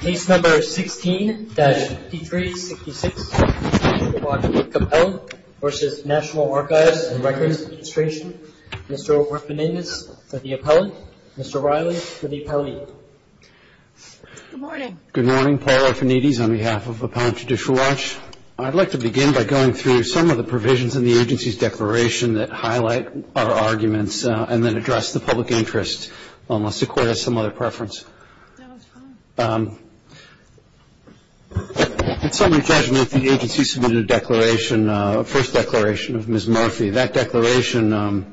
Case No. 16-5366, Appellant v. National Archives and Records Administration. Mr. Orfanides for the appellant. Mr. Riley for the appellant. Good morning. Good morning. Paul Orfanides on behalf of Appellant Judicial Watch. I'd like to begin by going through some of the provisions in the agency's declaration that highlight our arguments and then address the public interest, unless the Court has some other preference. In summary judgment, the agency submitted a declaration, a first declaration of Ms. Murphy. That declaration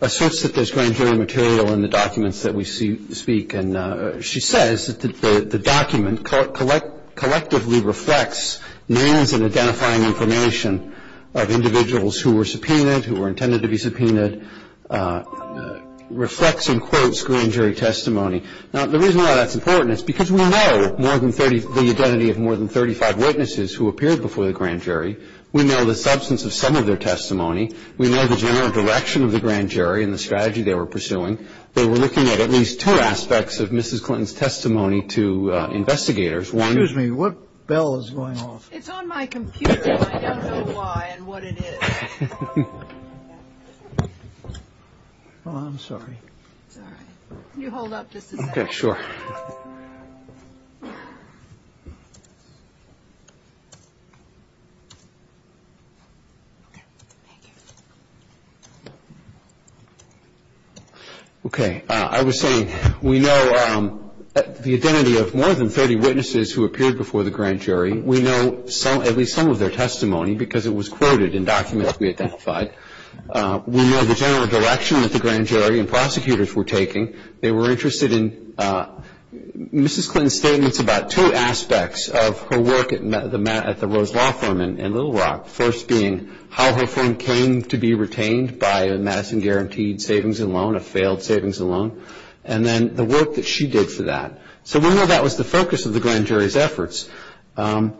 asserts that there's grand jury material in the documents that we speak. And she says that the document collectively reflects names and identifying information of individuals who were subpoenaed, who were intended to be subpoenaed, reflects and quotes grand jury testimony. Now, the reason why that's important is because we know more than 30, the identity of more than 35 witnesses who appeared before the grand jury. We know the substance of some of their testimony. We know the general direction of the grand jury and the strategy they were pursuing. They were looking at at least two aspects of Mrs. Clinton's testimony to investigators. Excuse me. What bell is going off? It's on my computer. I don't know why and what it is. Oh, I'm sorry. It's all right. Can you hold up just a second? Okay. Sure. Okay. Thank you. Okay. I was saying we know the identity of more than 30 witnesses who appeared before the grand jury. We know at least some of their testimony because it was quoted in documents we identified. We know the general direction that the grand jury and prosecutors were taking. They were interested in Mrs. Clinton's statements about two aspects of her work at the Rose Law Firm in Little Rock, the first being how her firm came to be retained by Madison Guaranteed Savings and Loan, a failed savings and loan, and then the work that she did for that. So we know that was the focus of the grand jury's efforts. I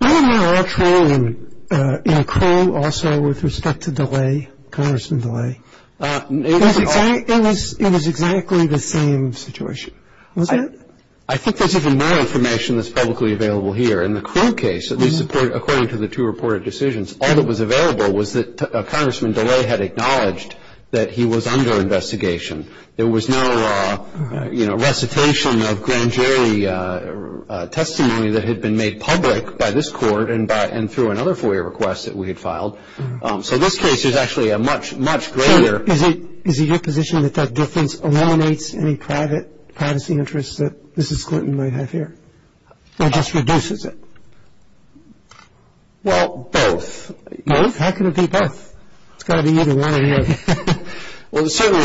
don't know much more in Crow also with respect to DeLay, Congressman DeLay. It was exactly the same situation. Was it? I think there's even more information that's publicly available here. In the Crow case, at least according to the two reported decisions, all that was available was that Congressman DeLay had acknowledged that he was under investigation. There was no, you know, recitation of grand jury testimony that had been made public by this court and through another FOIA request that we had filed. So this case is actually a much, much greater. So is it your position that that difference eliminates any privacy interests that Mrs. Clinton might have here or just reduces it? Well, both. Both? How can it be both? It's got to be either one or the other. Well, certainly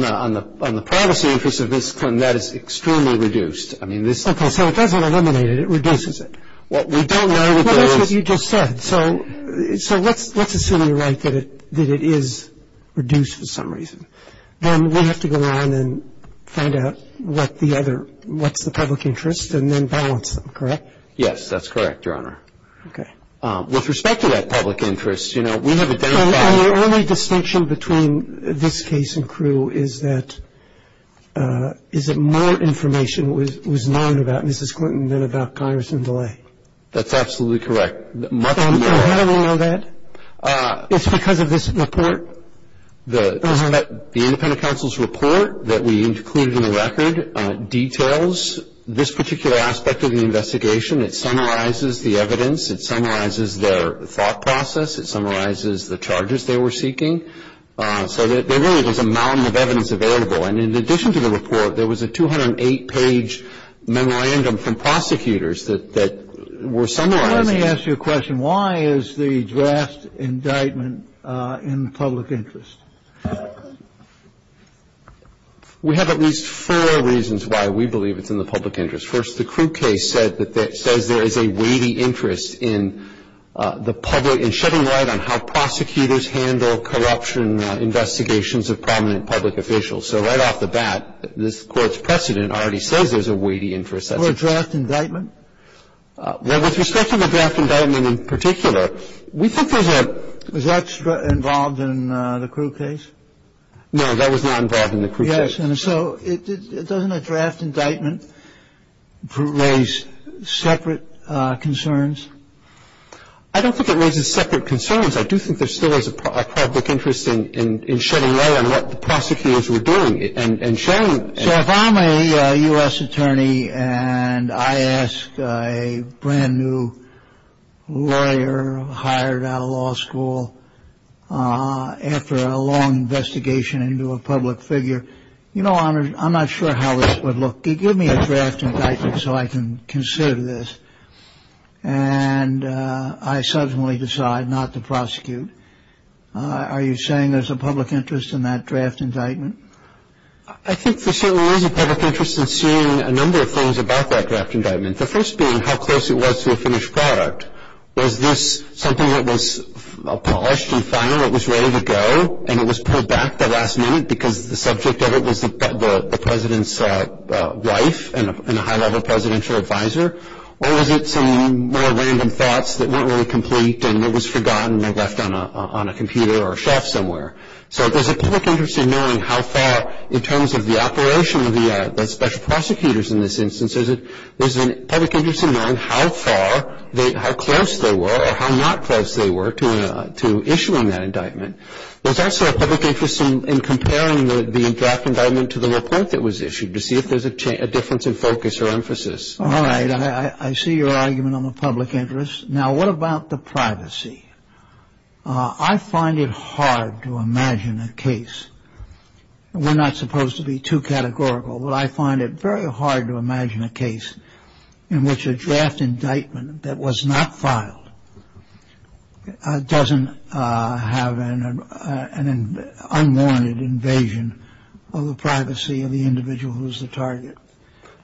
on the privacy interest of Mrs. Clinton, that is extremely reduced. Okay. So it doesn't eliminate it. It reduces it. Well, we don't know if it is. Well, that's what you just said. So let's assume you're right that it is reduced for some reason. Then we have to go on and find out what's the public interest and then balance them, correct? Yes, that's correct, Your Honor. Okay. With respect to that public interest, you know, we have identified. The only distinction between this case and Crewe is that more information was known about Mrs. Clinton than about Congressman DeLay. That's absolutely correct. How do we know that? It's because of this report? The independent counsel's report that we included in the record details this particular aspect of the investigation. It summarizes the evidence. It summarizes their thought process. It summarizes the charges they were seeking. So there really was a mountain of evidence available. And in addition to the report, there was a 208-page memorandum from prosecutors that were summarizing. Let me ask you a question. Why is the draft indictment in the public interest? We have at least four reasons why we believe it's in the public interest. First, the Crewe case said that it says there is a weighty interest in the public and shedding light on how prosecutors handle corruption investigations of prominent public officials. So right off the bat, this Court's precedent already says there's a weighty interest. Or a draft indictment? Well, with respect to the draft indictment in particular, we think there's a ---- Was that involved in the Crewe case? No, that was not involved in the Crewe case. Yes. So doesn't a draft indictment raise separate concerns? I don't think it raises separate concerns. I do think there still is a public interest in shedding light on what the prosecutors were doing and showing ---- So if I'm a U.S. attorney and I ask a brand-new lawyer hired out of law school, after a long investigation into a public figure, you know, I'm not sure how this would look. Give me a draft indictment so I can consider this. And I subsequently decide not to prosecute. Are you saying there's a public interest in that draft indictment? I think there certainly is a public interest in seeing a number of things about that draft indictment, the first being how close it was to a finished product. Was this something that was polished and final, it was ready to go, and it was pulled back the last minute because the subject of it was the president's wife and a high-level presidential advisor? Or was it some more random thoughts that weren't really complete and it was forgotten and left on a computer or a shelf somewhere? So there's a public interest in knowing how far, in terms of the operation of the special prosecutors in this instance, there's a public interest in knowing how far, how close they were or how not close they were to issuing that indictment. There's also a public interest in comparing the draft indictment to the report that was issued to see if there's a difference in focus or emphasis. All right. I see your argument on the public interest. Now, what about the privacy? I find it hard to imagine a case. We're not supposed to be too categorical, but I find it very hard to imagine a case in which a draft indictment that was not filed doesn't have an unwanted invasion of the privacy of the individual who's the target.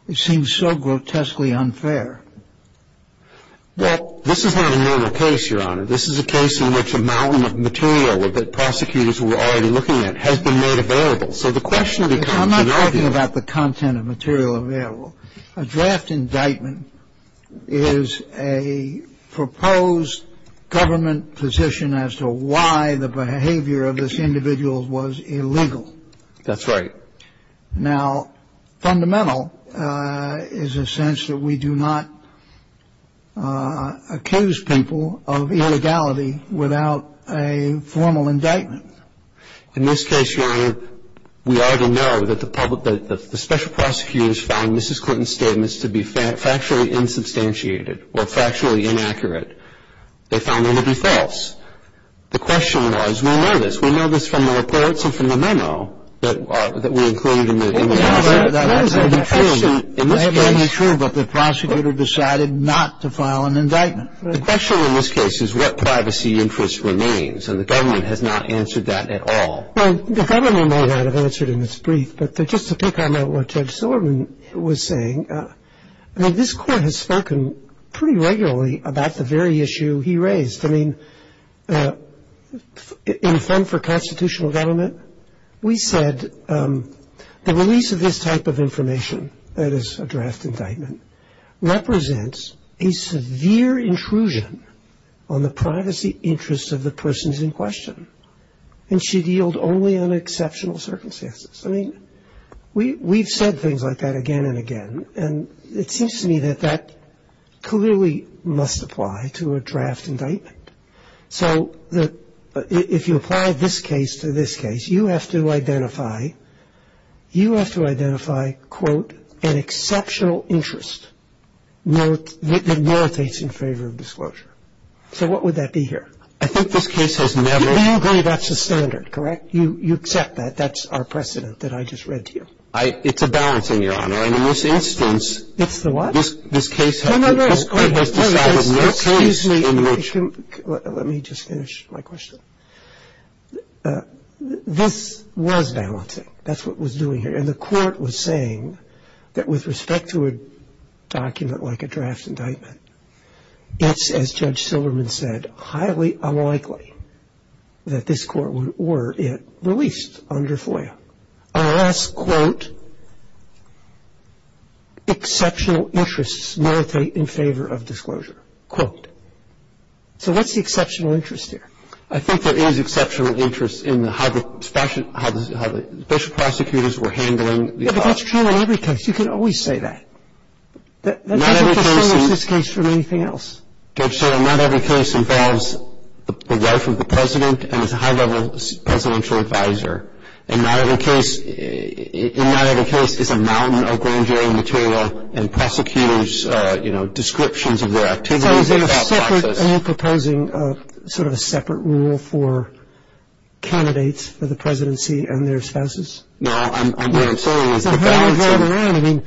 It seems so grotesquely unfair. Well, this is not a normal case, Your Honor. This is a case in which a mountain of material that prosecutors were already looking at has been made available. So the question becomes, in our view... I'm not talking about the content of material available. A draft indictment is a proposed government position as to why the behavior of this individual was illegal. That's right. Now, fundamental is a sense that we do not accuse people of illegality without a formal indictment. In this case, Your Honor, we already know that the public – that the special prosecutors found Mrs. Clinton's statements to be factually insubstantiated or factually inaccurate. They found them to be false. The question was, we know this. We know this from the reports and from the memo that we included in the document. Well, yes, that's absolutely true. In this case... That's absolutely true, but the prosecutor decided not to file an indictment. The question in this case is what privacy interest remains, and the government has not answered that at all. Well, the government may not have answered in its brief, but just to pick on what Judge Silverman was saying, I mean, this Court has spoken pretty regularly about the very issue he raised. I mean, in fund for constitutional government, we said the release of this type of information, that is a draft indictment, represents a severe intrusion on the privacy interests of the persons in question and should yield only on exceptional circumstances. I mean, we've said things like that again and again, and it seems to me that that clearly must apply to a draft indictment. So if you apply this case to this case, you have to identify, you have to identify, quote, an exceptional interest that meritates in favor of disclosure. So what would that be here? I think this case has never... You agree that's the standard, correct? You accept that. That's our precedent that I just read to you. It's a balancing, Your Honor. And in this instance... It's the what? This case has... No, no, no. Excuse me. Let me just finish my question. This was balancing. That's what it was doing here. And the court was saying that with respect to a document like a draft indictment, it's, as Judge Silverman said, highly unlikely that this court would order it released under FOIA. And so in this instance, I'm asking you to identify a last quote, exceptional interests meritate in favor of disclosure, quote. So what's the exceptional interest here? I think there is exceptional interest in how the special prosecutors were handling the... But that's true in every case. You can always say that. Not every case... That doesn't distinguish this case from anything else. Judge Silverman, not every case involves the life of the president and is a high-level presidential advisor. And not every case is a mountain of grand jury material and prosecutors' descriptions of their activities without process. So is there a separate... Are you proposing sort of a separate rule for candidates for the presidency and their spouses? No, what I'm saying is... I mean,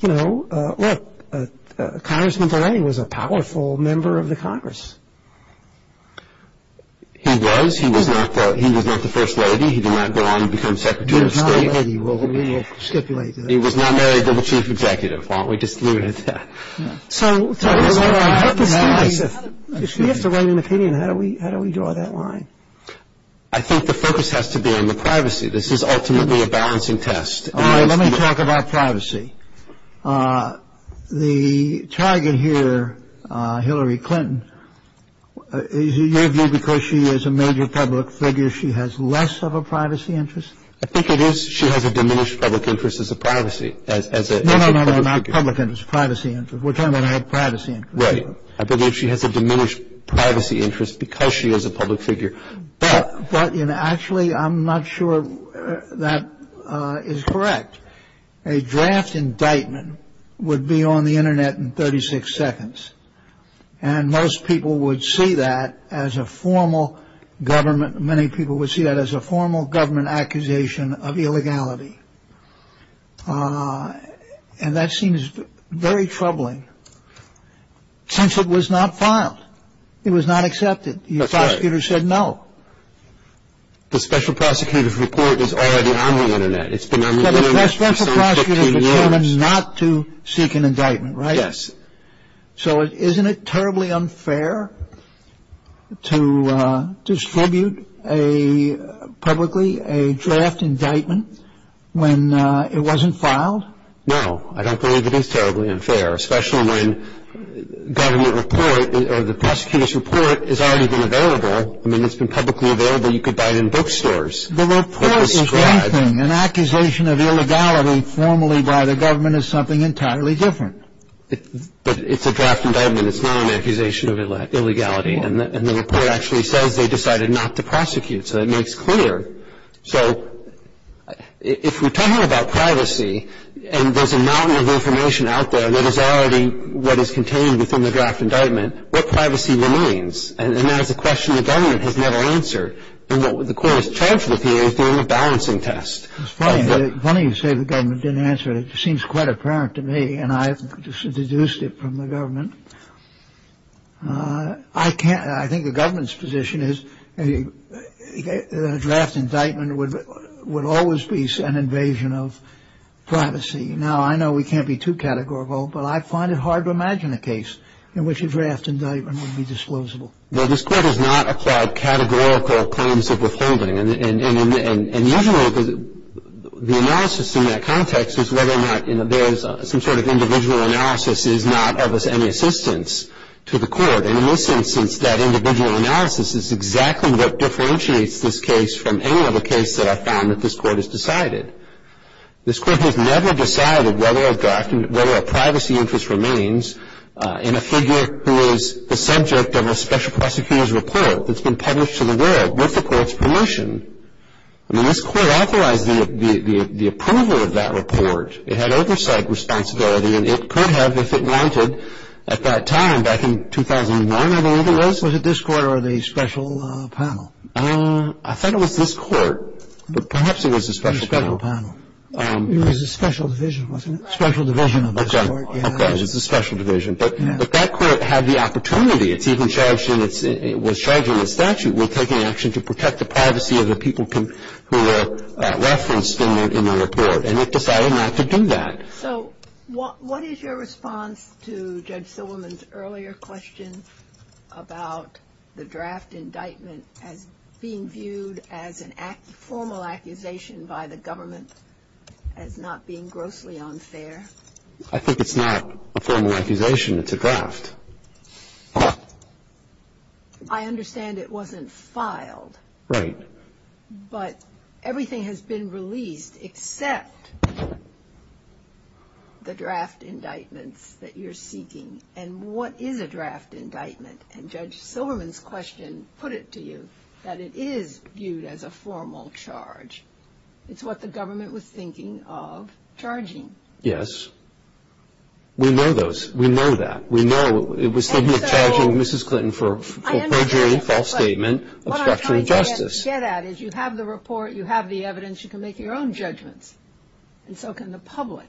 you know, look, Congressman Barrett was a powerful member of the Congress. He was. He was not the First Lady. He did not go on to become Secretary of State. He was not a lady. We'll stipulate that. He was not married to the chief executive. Why don't we just leave it at that? So if we have to write an opinion, how do we draw that line? I think the focus has to be on the privacy. This is ultimately a balancing test. All right, let me talk about privacy. The target here, Hillary Clinton, is it your view because she is a major public figure, she has less of a privacy interest? I think it is. She has a diminished public interest as a privacy, as a public figure. No, no, no, not public interest, privacy interest. We're talking about her privacy interest. Right. I believe she has a diminished privacy interest because she is a public figure. But, you know, actually I'm not sure that is correct. A draft indictment would be on the Internet in 36 seconds. And most people would see that as a formal government, many people would see that as a formal government accusation of illegality. And that seems very troubling since it was not filed. It was not accepted. That's right. Your prosecutor said no. The special prosecutor's report is already on the Internet. It's been on the Internet for some 15 years. So the special prosecutor determined not to seek an indictment, right? Yes. So isn't it terribly unfair to distribute publicly a draft indictment when it wasn't filed? No, I don't believe it is terribly unfair, especially when government report or the prosecutor's report has already been available. I mean, it's been publicly available. You could buy it in bookstores. The report is anything. An accusation of illegality formally by the government is something entirely different. But it's a draft indictment. It's not an accusation of illegality. And the report actually says they decided not to prosecute. So that makes clear. So if we're talking about privacy and there's a mountain of information out there that is already what is contained within the draft indictment, what privacy remains? And that is a question the government has never answered. And what the court has charged with here is doing a balancing test. It's funny you say the government didn't answer it. It seems quite apparent to me. And I've deduced it from the government. I can't. I think the government's position is a draft indictment would always be an invasion of privacy. Now, I know we can't be too categorical, but I find it hard to imagine a case in which a draft indictment would be disposable. Well, this Court has not applied categorical claims of withholding. And usually the analysis in that context is whether or not there is some sort of individual analysis is not of any significance. And in this instance, that individual analysis is exactly what differentiates this case from any other case that I've found that this Court has decided. This Court has never decided whether a privacy interest remains in a figure who is the subject of a special prosecutor's report that's been published to the world with the Court's permission. I mean, this Court authorized the approval of that report. It had oversight responsibility. And it could have if it wanted at that time back in 2001, I believe it was. Was it this Court or the special panel? I thought it was this Court. But perhaps it was the special panel. The special panel. It was the special division, wasn't it? Special division of this Court. Okay. It was the special division. But that Court had the opportunity. It was charged in its statute with taking action to protect the privacy of the people who were referenced in the report. And it decided not to do that. So what is your response to Judge Silverman's earlier question about the draft indictment as being viewed as a formal accusation by the government as not being grossly unfair? I think it's not a formal accusation. It's a draft. I understand it wasn't filed. Right. But everything has been released except the draft indictments that you're seeking. And what is a draft indictment? And Judge Silverman's question put it to you that it is viewed as a formal charge. It's what the government was thinking of charging. Yes. We know those. We know that. We know it was thinking of charging Mrs. Clinton for perjury, false statement, obstruction of justice. What you get at is you have the report, you have the evidence, you can make your own judgments. And so can the public.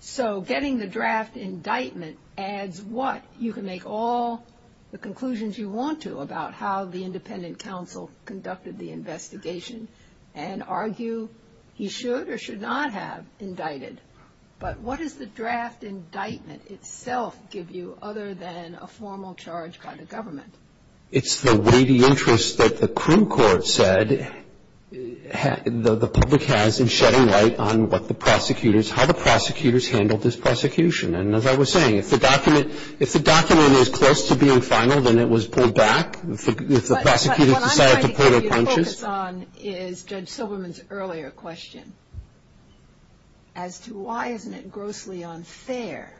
So getting the draft indictment adds what? You can make all the conclusions you want to about how the independent counsel conducted the investigation and argue he should or should not have indicted. But what does the draft indictment itself give you other than a formal charge by the government? It's the weighty interest that the crim court said the public has in shedding light on what the prosecutors, how the prosecutors handled this prosecution. And as I was saying, if the document is close to being final, then it was pulled back. If the prosecutors decided to pull their punches. What I'm trying to get you to focus on is Judge Silverman's earlier question as to why isn't it grossly unfair.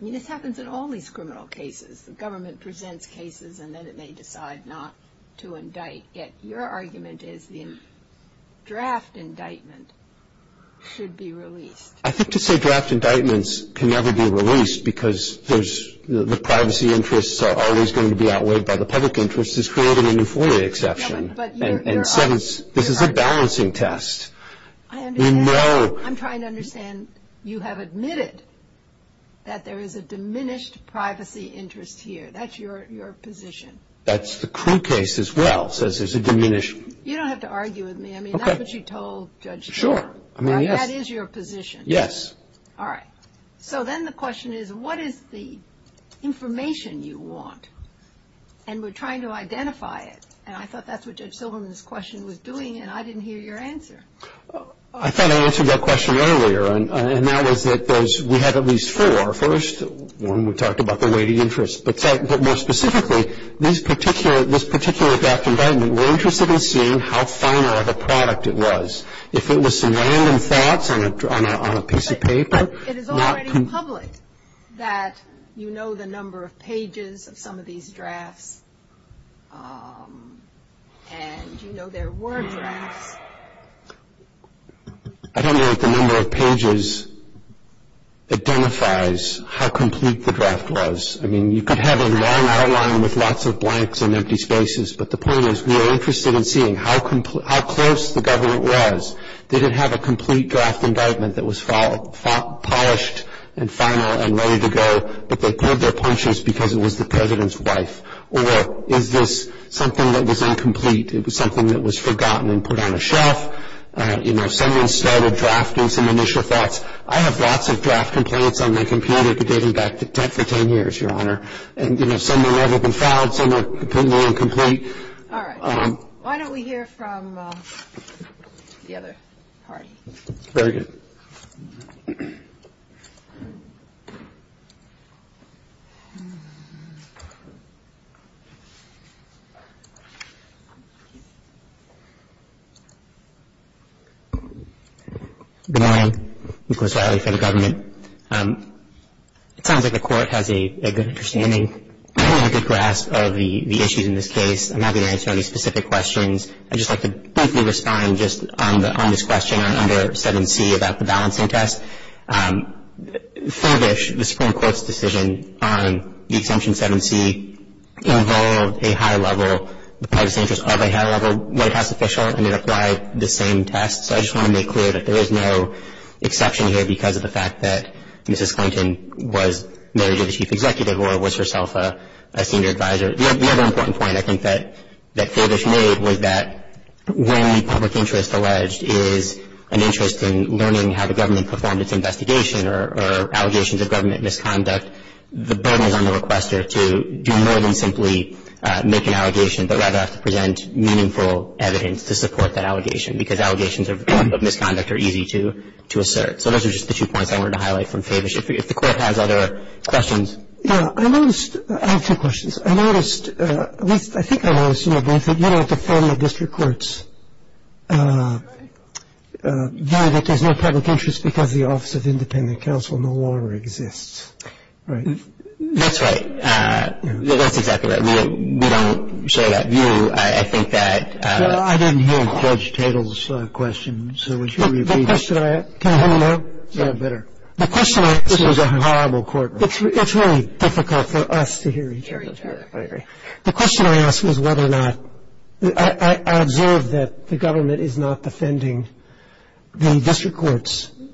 I mean, this happens in all these criminal cases. The government presents cases and then it may decide not to indict. Yet your argument is the draft indictment should be released. I think to say draft indictments can never be released because the privacy interests are always going to be outweighed by the public interest is creating a new form of exception. And so this is a balancing test. I'm trying to understand. You have admitted that there is a diminished privacy interest here. That's your position. That's the crew case as well, says there's a diminishing. You don't have to argue with me. I mean, that's what you told Judge Silverman. Sure. That is your position. Yes. All right. So then the question is, what is the information you want? And we're trying to identify it. And I thought that's what Judge Silverman's question was doing, and I didn't hear your answer. I thought I answered that question earlier, and that was that we had at least four. First, when we talked about the weighty interest. But more specifically, this particular draft indictment, we're interested in seeing how final of a product it was. It is already public that you know the number of pages of some of these drafts, and you know there were drafts. I don't know if the number of pages identifies how complete the draft was. I mean, you could have a long outline with lots of blanks and empty spaces, but the point is we are interested in seeing how close the government was. Did it have a complete draft indictment that was polished and final and ready to go, but they pulled their punches because it was the President's wife? Or is this something that was incomplete? It was something that was forgotten and put on a shelf? You know, someone started drafting some initial thoughts. I have lots of draft complaints on my computer dating back for 10 years, Your Honor. And, you know, some have never been filed, some are completely incomplete. All right. Why don't we hear from the other party? Very good. Good morning. Nicholas Riley for the government. It sounds like the Court has a good understanding, a good grasp of the issues in this case. I'm not going to answer any specific questions. I'd just like to briefly respond just on this question on under 7C about the balancing test. Fairbash, the Supreme Court's decision on the exemption 7C involved a high-level, the privacy interest of a high-level White House official, and it applied the same test. So I just want to make clear that there is no exception here because of the fact that Mrs. Clinton was married to the Chief Executive or was herself a senior advisor. The other important point I think that Fairbash made was that when public interest alleged is an interest in learning how the government performed its investigation or allegations of government misconduct, the burden is on the requester to do more than simply make an allegation, but rather have to present meaningful evidence to support that allegation because allegations of misconduct are easy to assert. So those are just the two points I wanted to highlight from Fairbash. If the Court has other questions. Yeah, I noticed, I have two questions. I noticed, at least I think I noticed, you know, that the federal district courts view that there's no public interest because the Office of Independent Counsel no longer exists, right? That's right. That's exactly right. We don't share that view. I think that. Well, I didn't hear Judge Tatel's question. So would you repeat it? The question I had. Can I have it now? Yeah, better. The question I had. This was a horrible courtroom. It's really difficult for us to hear each other. I agree. The question I asked was whether or not, I observed that the government is not defending the district court's view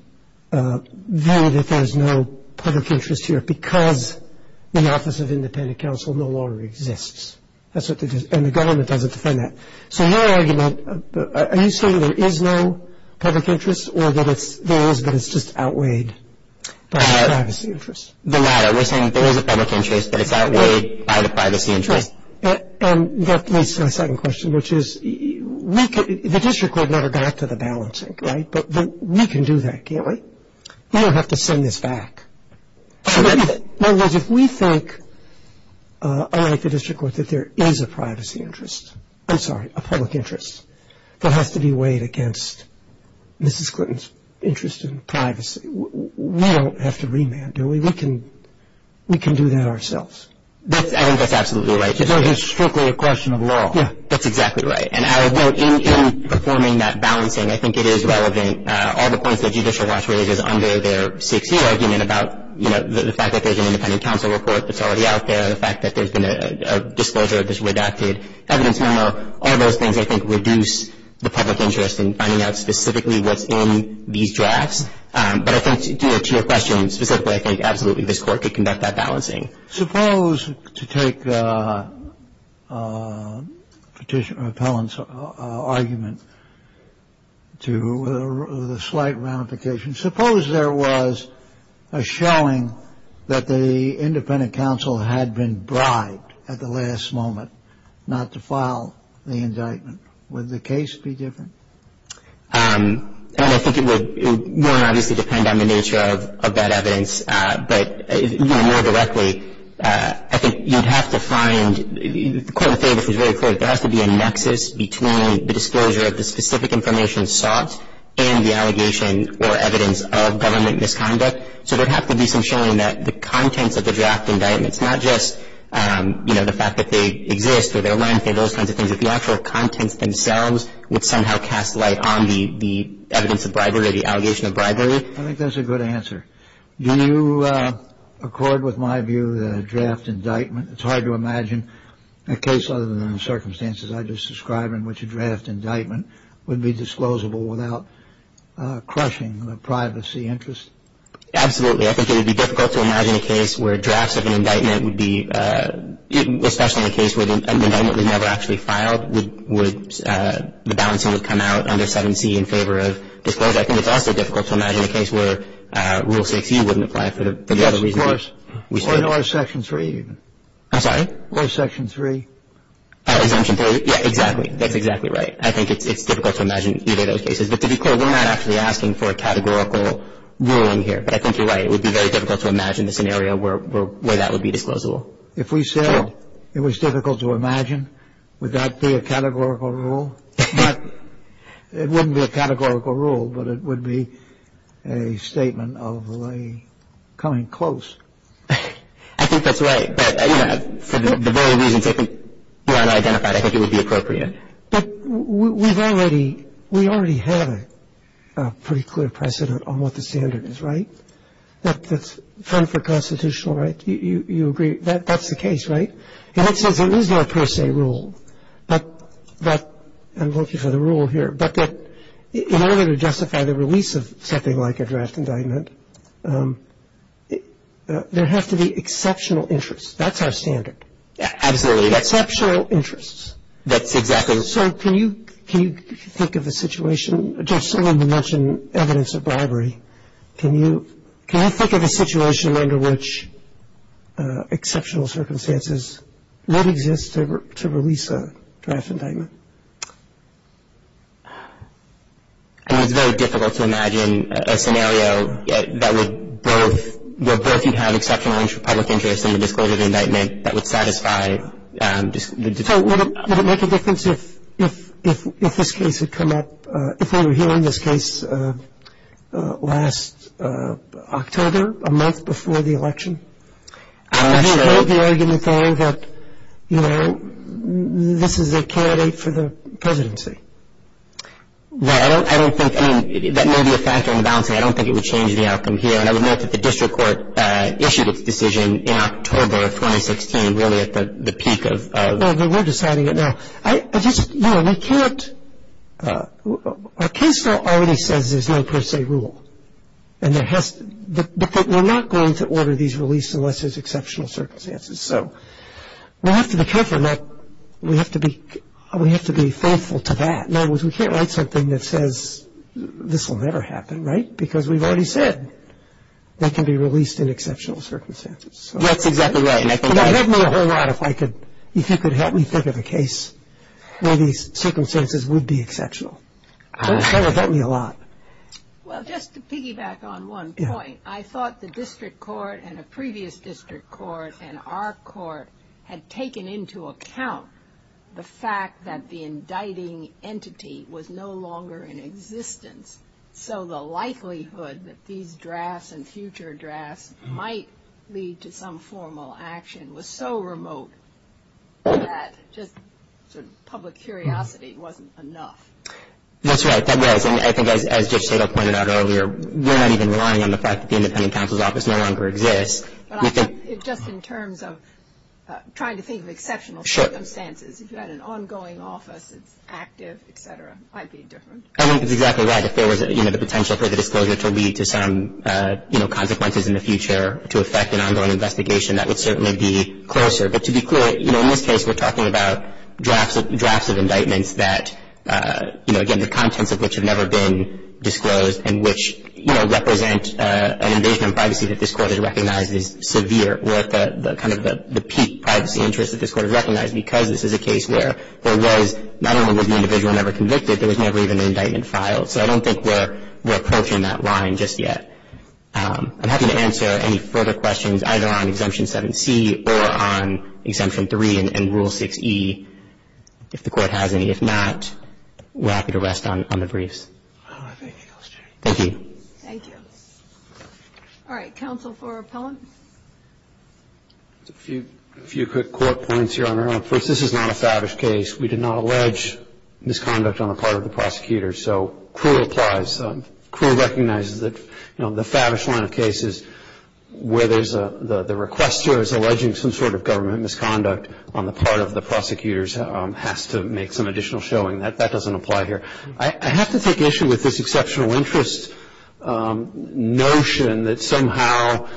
that there's no public interest here because the Office of Independent Counsel no longer exists. And the government doesn't defend that. So your argument, are you saying there is no public interest or that it's just outweighed by the privacy interest? The latter. We're saying there is a public interest, but it's outweighed by the privacy interest. And that leads to my second question, which is, the district court never got to the balancing, right? But we can do that, can't we? We don't have to send this back. Judge, if we think, unlike the district court, that there is a privacy interest, I'm sorry, a public interest that has to be weighed against Mrs. Clinton's interest in privacy, we don't have to remand, do we? We can do that ourselves. I think that's absolutely right. Because there is strictly a question of law. Yeah, that's exactly right. And I would note, in performing that balancing, I think it is relevant. All the points that Judicial Watch raises under their 6-year argument about, you know, the fact that there's an independent counsel report that's already out there, the fact that there's been a disclosure of this redacted evidence memo, all those things I think reduce the public interest in finding out specifically what's in these drafts. But I think, to your question specifically, I think absolutely this Court could conduct that balancing. Suppose, to take Petitioner Appellant's argument to the slight ramification, suppose there was a showing that the independent counsel had been bribed at the last moment not to file the indictment. Would the case be different? I don't know. I think it would. It wouldn't obviously depend on the nature of that evidence. But, you know, more directly, I think you'd have to find, the Court of Fables is very clear, that there has to be a nexus between the disclosure of the specific information sought and the allegation or evidence of government misconduct. So there'd have to be some showing that the contents of the draft indictments, not just, you know, the fact that they exist or their length or those kinds of things, but the actual contents themselves would somehow cast light on the evidence of bribery or the allegation of bribery. I think that's a good answer. Do you accord with my view that a draft indictment, it's hard to imagine a case other than the circumstances I just described in which a draft indictment would be disclosable without crushing the privacy interest? Absolutely. I think it would be difficult to imagine a case where drafts of an indictment would be, especially in a case where the indictment was never actually filed, would the balancing would come out under 7C in favor of disclosure. I think it's also difficult to imagine a case where Rule 6U wouldn't apply for the other reasons. Yes, of course. Or Section 3. I'm sorry? Or Section 3. Exemption 3. Yeah, exactly. That's exactly right. I think it's difficult to imagine either of those cases. But to be clear, we're not actually asking for a categorical ruling here. But I think you're right. It would be very difficult to imagine the scenario where that would be disclosable. If we said it was difficult to imagine, would that be a categorical rule? I think it would be a categorical rule, but it wouldn't be a categorical rule. But it wouldn't be a categorical rule, but it would be a statement of a coming close. I think that's right. But, you know, for the very reasons you have identified, I think it would be appropriate. But we've already we already have a pretty clear precedent on what the standard is, right? That's fun for constitutional rights. You agree. That's the case, right? And that says there is no per se rule. But I'm looking for the rule here. But in order to justify the release of something like a draft indictment, there have to be exceptional interests. That's our standard. Absolutely. Exceptional interests. That's exactly. So can you think of a situation? Judge Sullivan mentioned evidence of bribery. Can you think of a situation under which exceptional circumstances would exist to release a draft indictment? I mean, it's very difficult to imagine a scenario that would both where both would have exceptional public interest in the disclosure of indictment that would satisfy the defendant. So would it make a difference if this case had come up if they were hearing this case last October, a month before the election? I'm not sure. Would you hold the argument, though, that, you know, this is a candidate for the presidency? Well, I don't think that may be a factor in the balancing. I don't think it would change the outcome here. And I would note that the district court issued its decision in October of 2016, really at the peak of. Well, we're deciding it now. I just, you know, we can't. Our case law already says there's no per se rule. And there has to. But we're not going to order these released unless there's exceptional circumstances. So we have to be careful. We have to be faithful to that. In other words, we can't write something that says this will never happen, right? Because we've already said that can be released in exceptional circumstances. That's exactly right. If you could help me think of a case where these circumstances would be exceptional. That would help me a lot. Well, just to piggyback on one point, I thought the district court and a previous district court and our court had taken into account the fact that the indicting entity was no longer in existence. So the likelihood that these drafts and future drafts might lead to some formal action was so remote that just sort of public curiosity wasn't enough. That's right. That was. And I think as Judge Tittle pointed out earlier, we're not even relying on the fact that the independent counsel's office no longer exists. But I thought just in terms of trying to think of exceptional circumstances, if you had an ongoing office that's active, et cetera, it might be different. I think that's exactly right. If there was, you know, the potential for the disclosure to lead to some, you know, consequences in the future to affect an ongoing investigation, that would certainly be closer. But to be clear, you know, in this case we're talking about drafts of indictments that, you know, again the contents of which have never been disclosed and which, you know, represent an invasion of privacy that this court has recognized as severe or kind of the peak privacy interest that this court has recognized because this is a case where there was not only was the individual never convicted, there was never even an indictment filed. So I don't think we're approaching that line just yet. I'm happy to answer any further questions either on Exemption 7C or on Exemption 3 and Rule 6E. If the Court has any. If not, we're happy to rest on the briefs. I don't have any more questions. Thank you. Thank you. Counsel for Appellant? A few quick court points here, Your Honor. First, this is not a fabish case. We did not allege misconduct on the part of the prosecutors. So cruel applies. Cruel recognizes that, you know, the fabish line of cases where there's a request to or is alleging some sort of government misconduct on the part of the prosecutors has to make some additional showing. That doesn't apply here. I have to take issue with this exceptional interest notion that somehow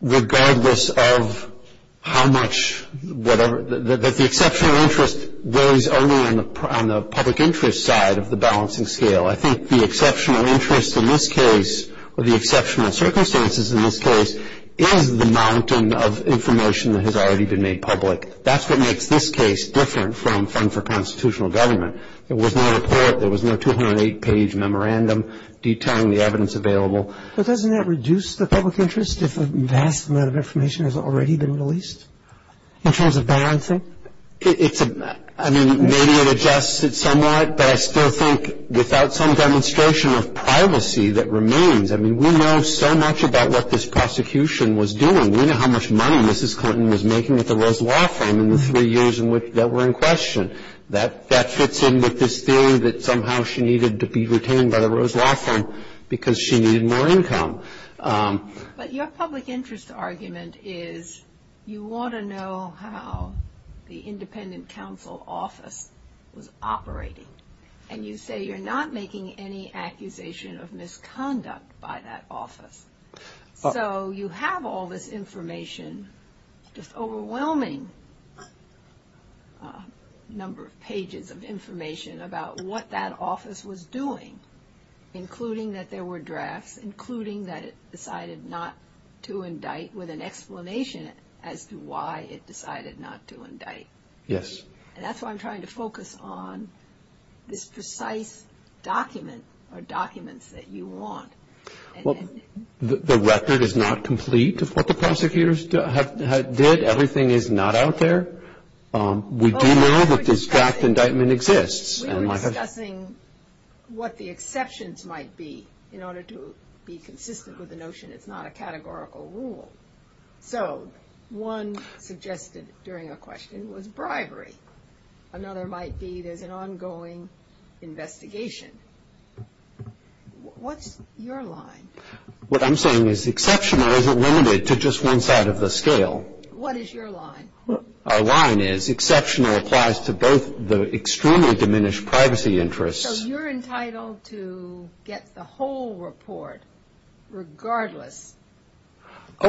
regardless of how much whatever, that the exceptional interest weighs only on the public interest side of the balancing scale. I think the exceptional interest in this case or the exceptional circumstances in this case is the mountain of information that has already been made public. That's what makes this case different from Fund for Constitutional Government. There was no report. There was no 208-page memorandum detailing the evidence available. But doesn't that reduce the public interest if a vast amount of information has already been released in terms of balancing? I mean, maybe it adjusts it somewhat, but I still think without some demonstration of privacy that remains. I mean, we know so much about what this prosecution was doing. We know how much money Mrs. Clinton was making at the Rose Law Firm in the three years that were in question. That fits in with this theory that somehow she needed to be retained by the Rose Law Firm because she needed more income. But your public interest argument is you want to know how the independent counsel office was operating, and you say you're not making any accusation of misconduct by that office. So you have all this information, just overwhelming number of pages of information about what that office was doing, including that there were drafts, including that it decided not to indict with an explanation as to why it decided not to indict. Yes. And that's why I'm trying to focus on this precise document or documents that you want. Well, the record is not complete of what the prosecutors did. Everything is not out there. We do know that this draft indictment exists. We were discussing what the exceptions might be in order to be consistent with the notion it's not a categorical rule. So one suggested during a question was bribery. Another might be there's an ongoing investigation. What's your line? What I'm saying is exceptional isn't limited to just one side of the scale. What is your line? Our line is exceptional applies to both the extremely diminished privacy interests. So you're entitled to get the whole report regardless of…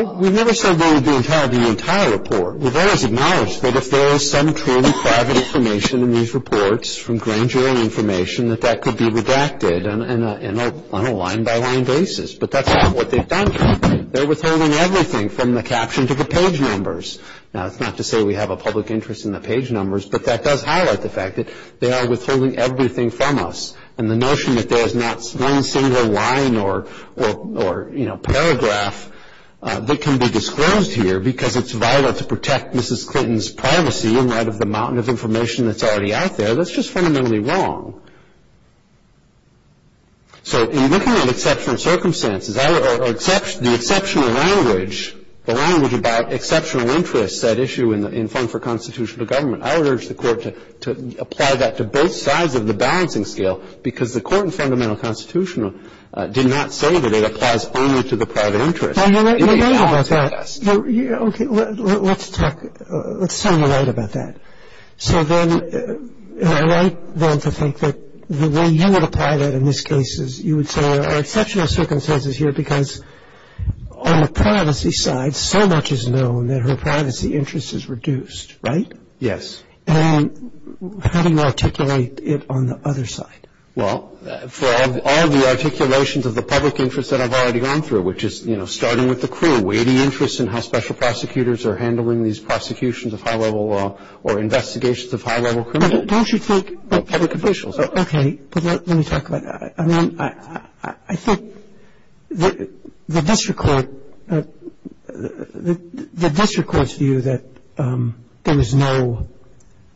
Oh, we never said we would be entitled to the entire report. We've always acknowledged that if there is some truly private information in these reports from grand jury information, that that could be redacted on a line-by-line basis. But that's not what they've done here. They're withholding everything from the caption to the page numbers. Now, that's not to say we have a public interest in the page numbers, but that does highlight the fact that they are withholding everything from us. And the notion that there is not one single line or, you know, paragraph that can be disclosed here because it's vital to protect Mrs. Clinton's privacy in light of the mountain of information that's already out there, that's just fundamentally wrong. So in looking at exceptional circumstances or the exceptional language, the language about exceptional interests, that issue in Fund for Constitutional Government, I would urge the Court to apply that to both sides of the balancing scale because the Court in Fundamental Constitutional did not say that it applies only to the private interest. It would be a balance to the rest. Okay. Let's talk – let's sound the light about that. So then I like then to think that the way you would apply that in this case is you would say there are exceptional circumstances here because on the privacy side, so much is known that her privacy interest is reduced, right? Yes. And how do you articulate it on the other side? Well, for all the articulations of the public interest that I've already gone through, which is, you know, starting with the crew, weighting interests in how special prosecutors are handling these prosecutions of high-level law or investigations of high-level criminal public officials. Okay. But let me talk about that. I mean, I think the district court's view that there is no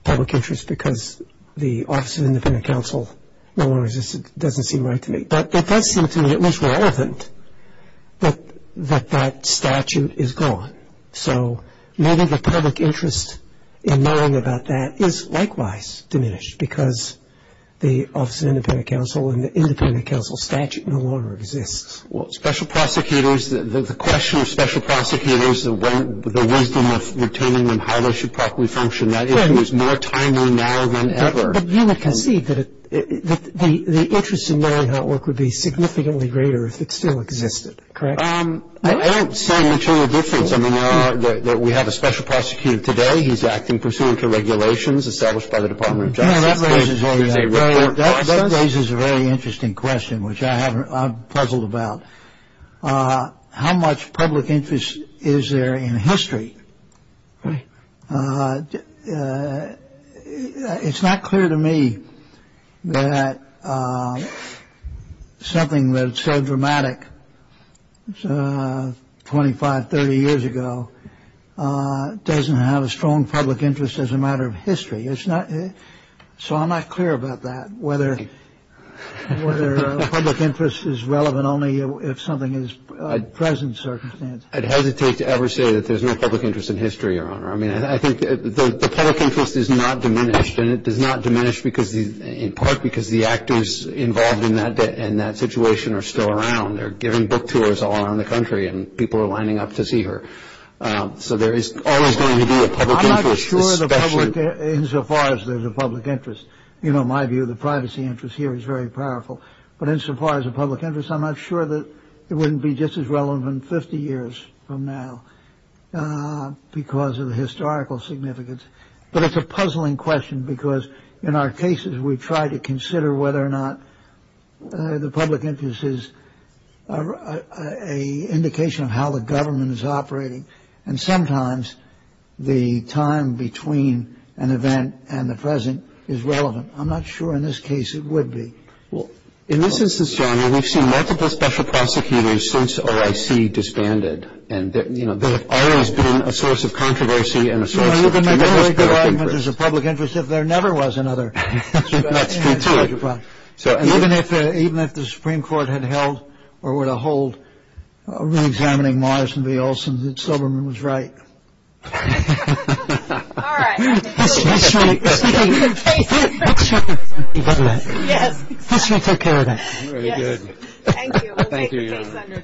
public interest because the Office of Independent Counsel no longer exists doesn't seem right to me. But it does seem to me at least relevant that that statute is gone. So maybe the public interest in knowing about that is likewise diminished because the Office of Independent Counsel and the Independent Counsel statute no longer exists. Well, special prosecutors, the question of special prosecutors, the wisdom of retaining them highly should probably function. That issue is more timely now than ever. But you would concede that the interest in knowing how it worked would be significantly greater if it still existed, correct? I don't see a material difference. I mean, we have a special prosecutor today. He's acting pursuant to regulations established by the Department of Justice. That raises a very interesting question, which I'm puzzled about. How much public interest is there in history? It's not clear to me that something that's so dramatic 25, 30 years ago doesn't have a strong public interest as a matter of history. So I'm not clear about that, whether public interest is relevant only if something is present circumstances. I'd hesitate to ever say that there's no public interest in history, Your Honor. I mean, I think the public interest is not diminished. And it does not diminish in part because the actors involved in that situation are still around. They're giving book tours all around the country and people are lining up to see her. So there is always going to be a public interest, especially insofar as there's a public interest. You know, my view of the privacy interest here is very powerful. But insofar as a public interest, I'm not sure that it wouldn't be just as relevant 50 years from now because of the historical significance. But it's a puzzling question because in our cases, whether or not the public interest is an indication of how the government is operating. And sometimes the time between an event and the present is relevant. I'm not sure in this case it would be. Well, in this instance, Your Honor, we've seen multiple special prosecutors since OIC disbanded. And, you know, there have always been a source of controversy and a source of tremendous public interest. There's a public interest if there never was another. That's true, too. Even if the Supreme Court had held or were to hold reexamining Morrison v. Olson, that Silberman was right. All right. History. History. History. History. History. Yes. History took care of that. Very good. Thank you. Thank you, Your Honor.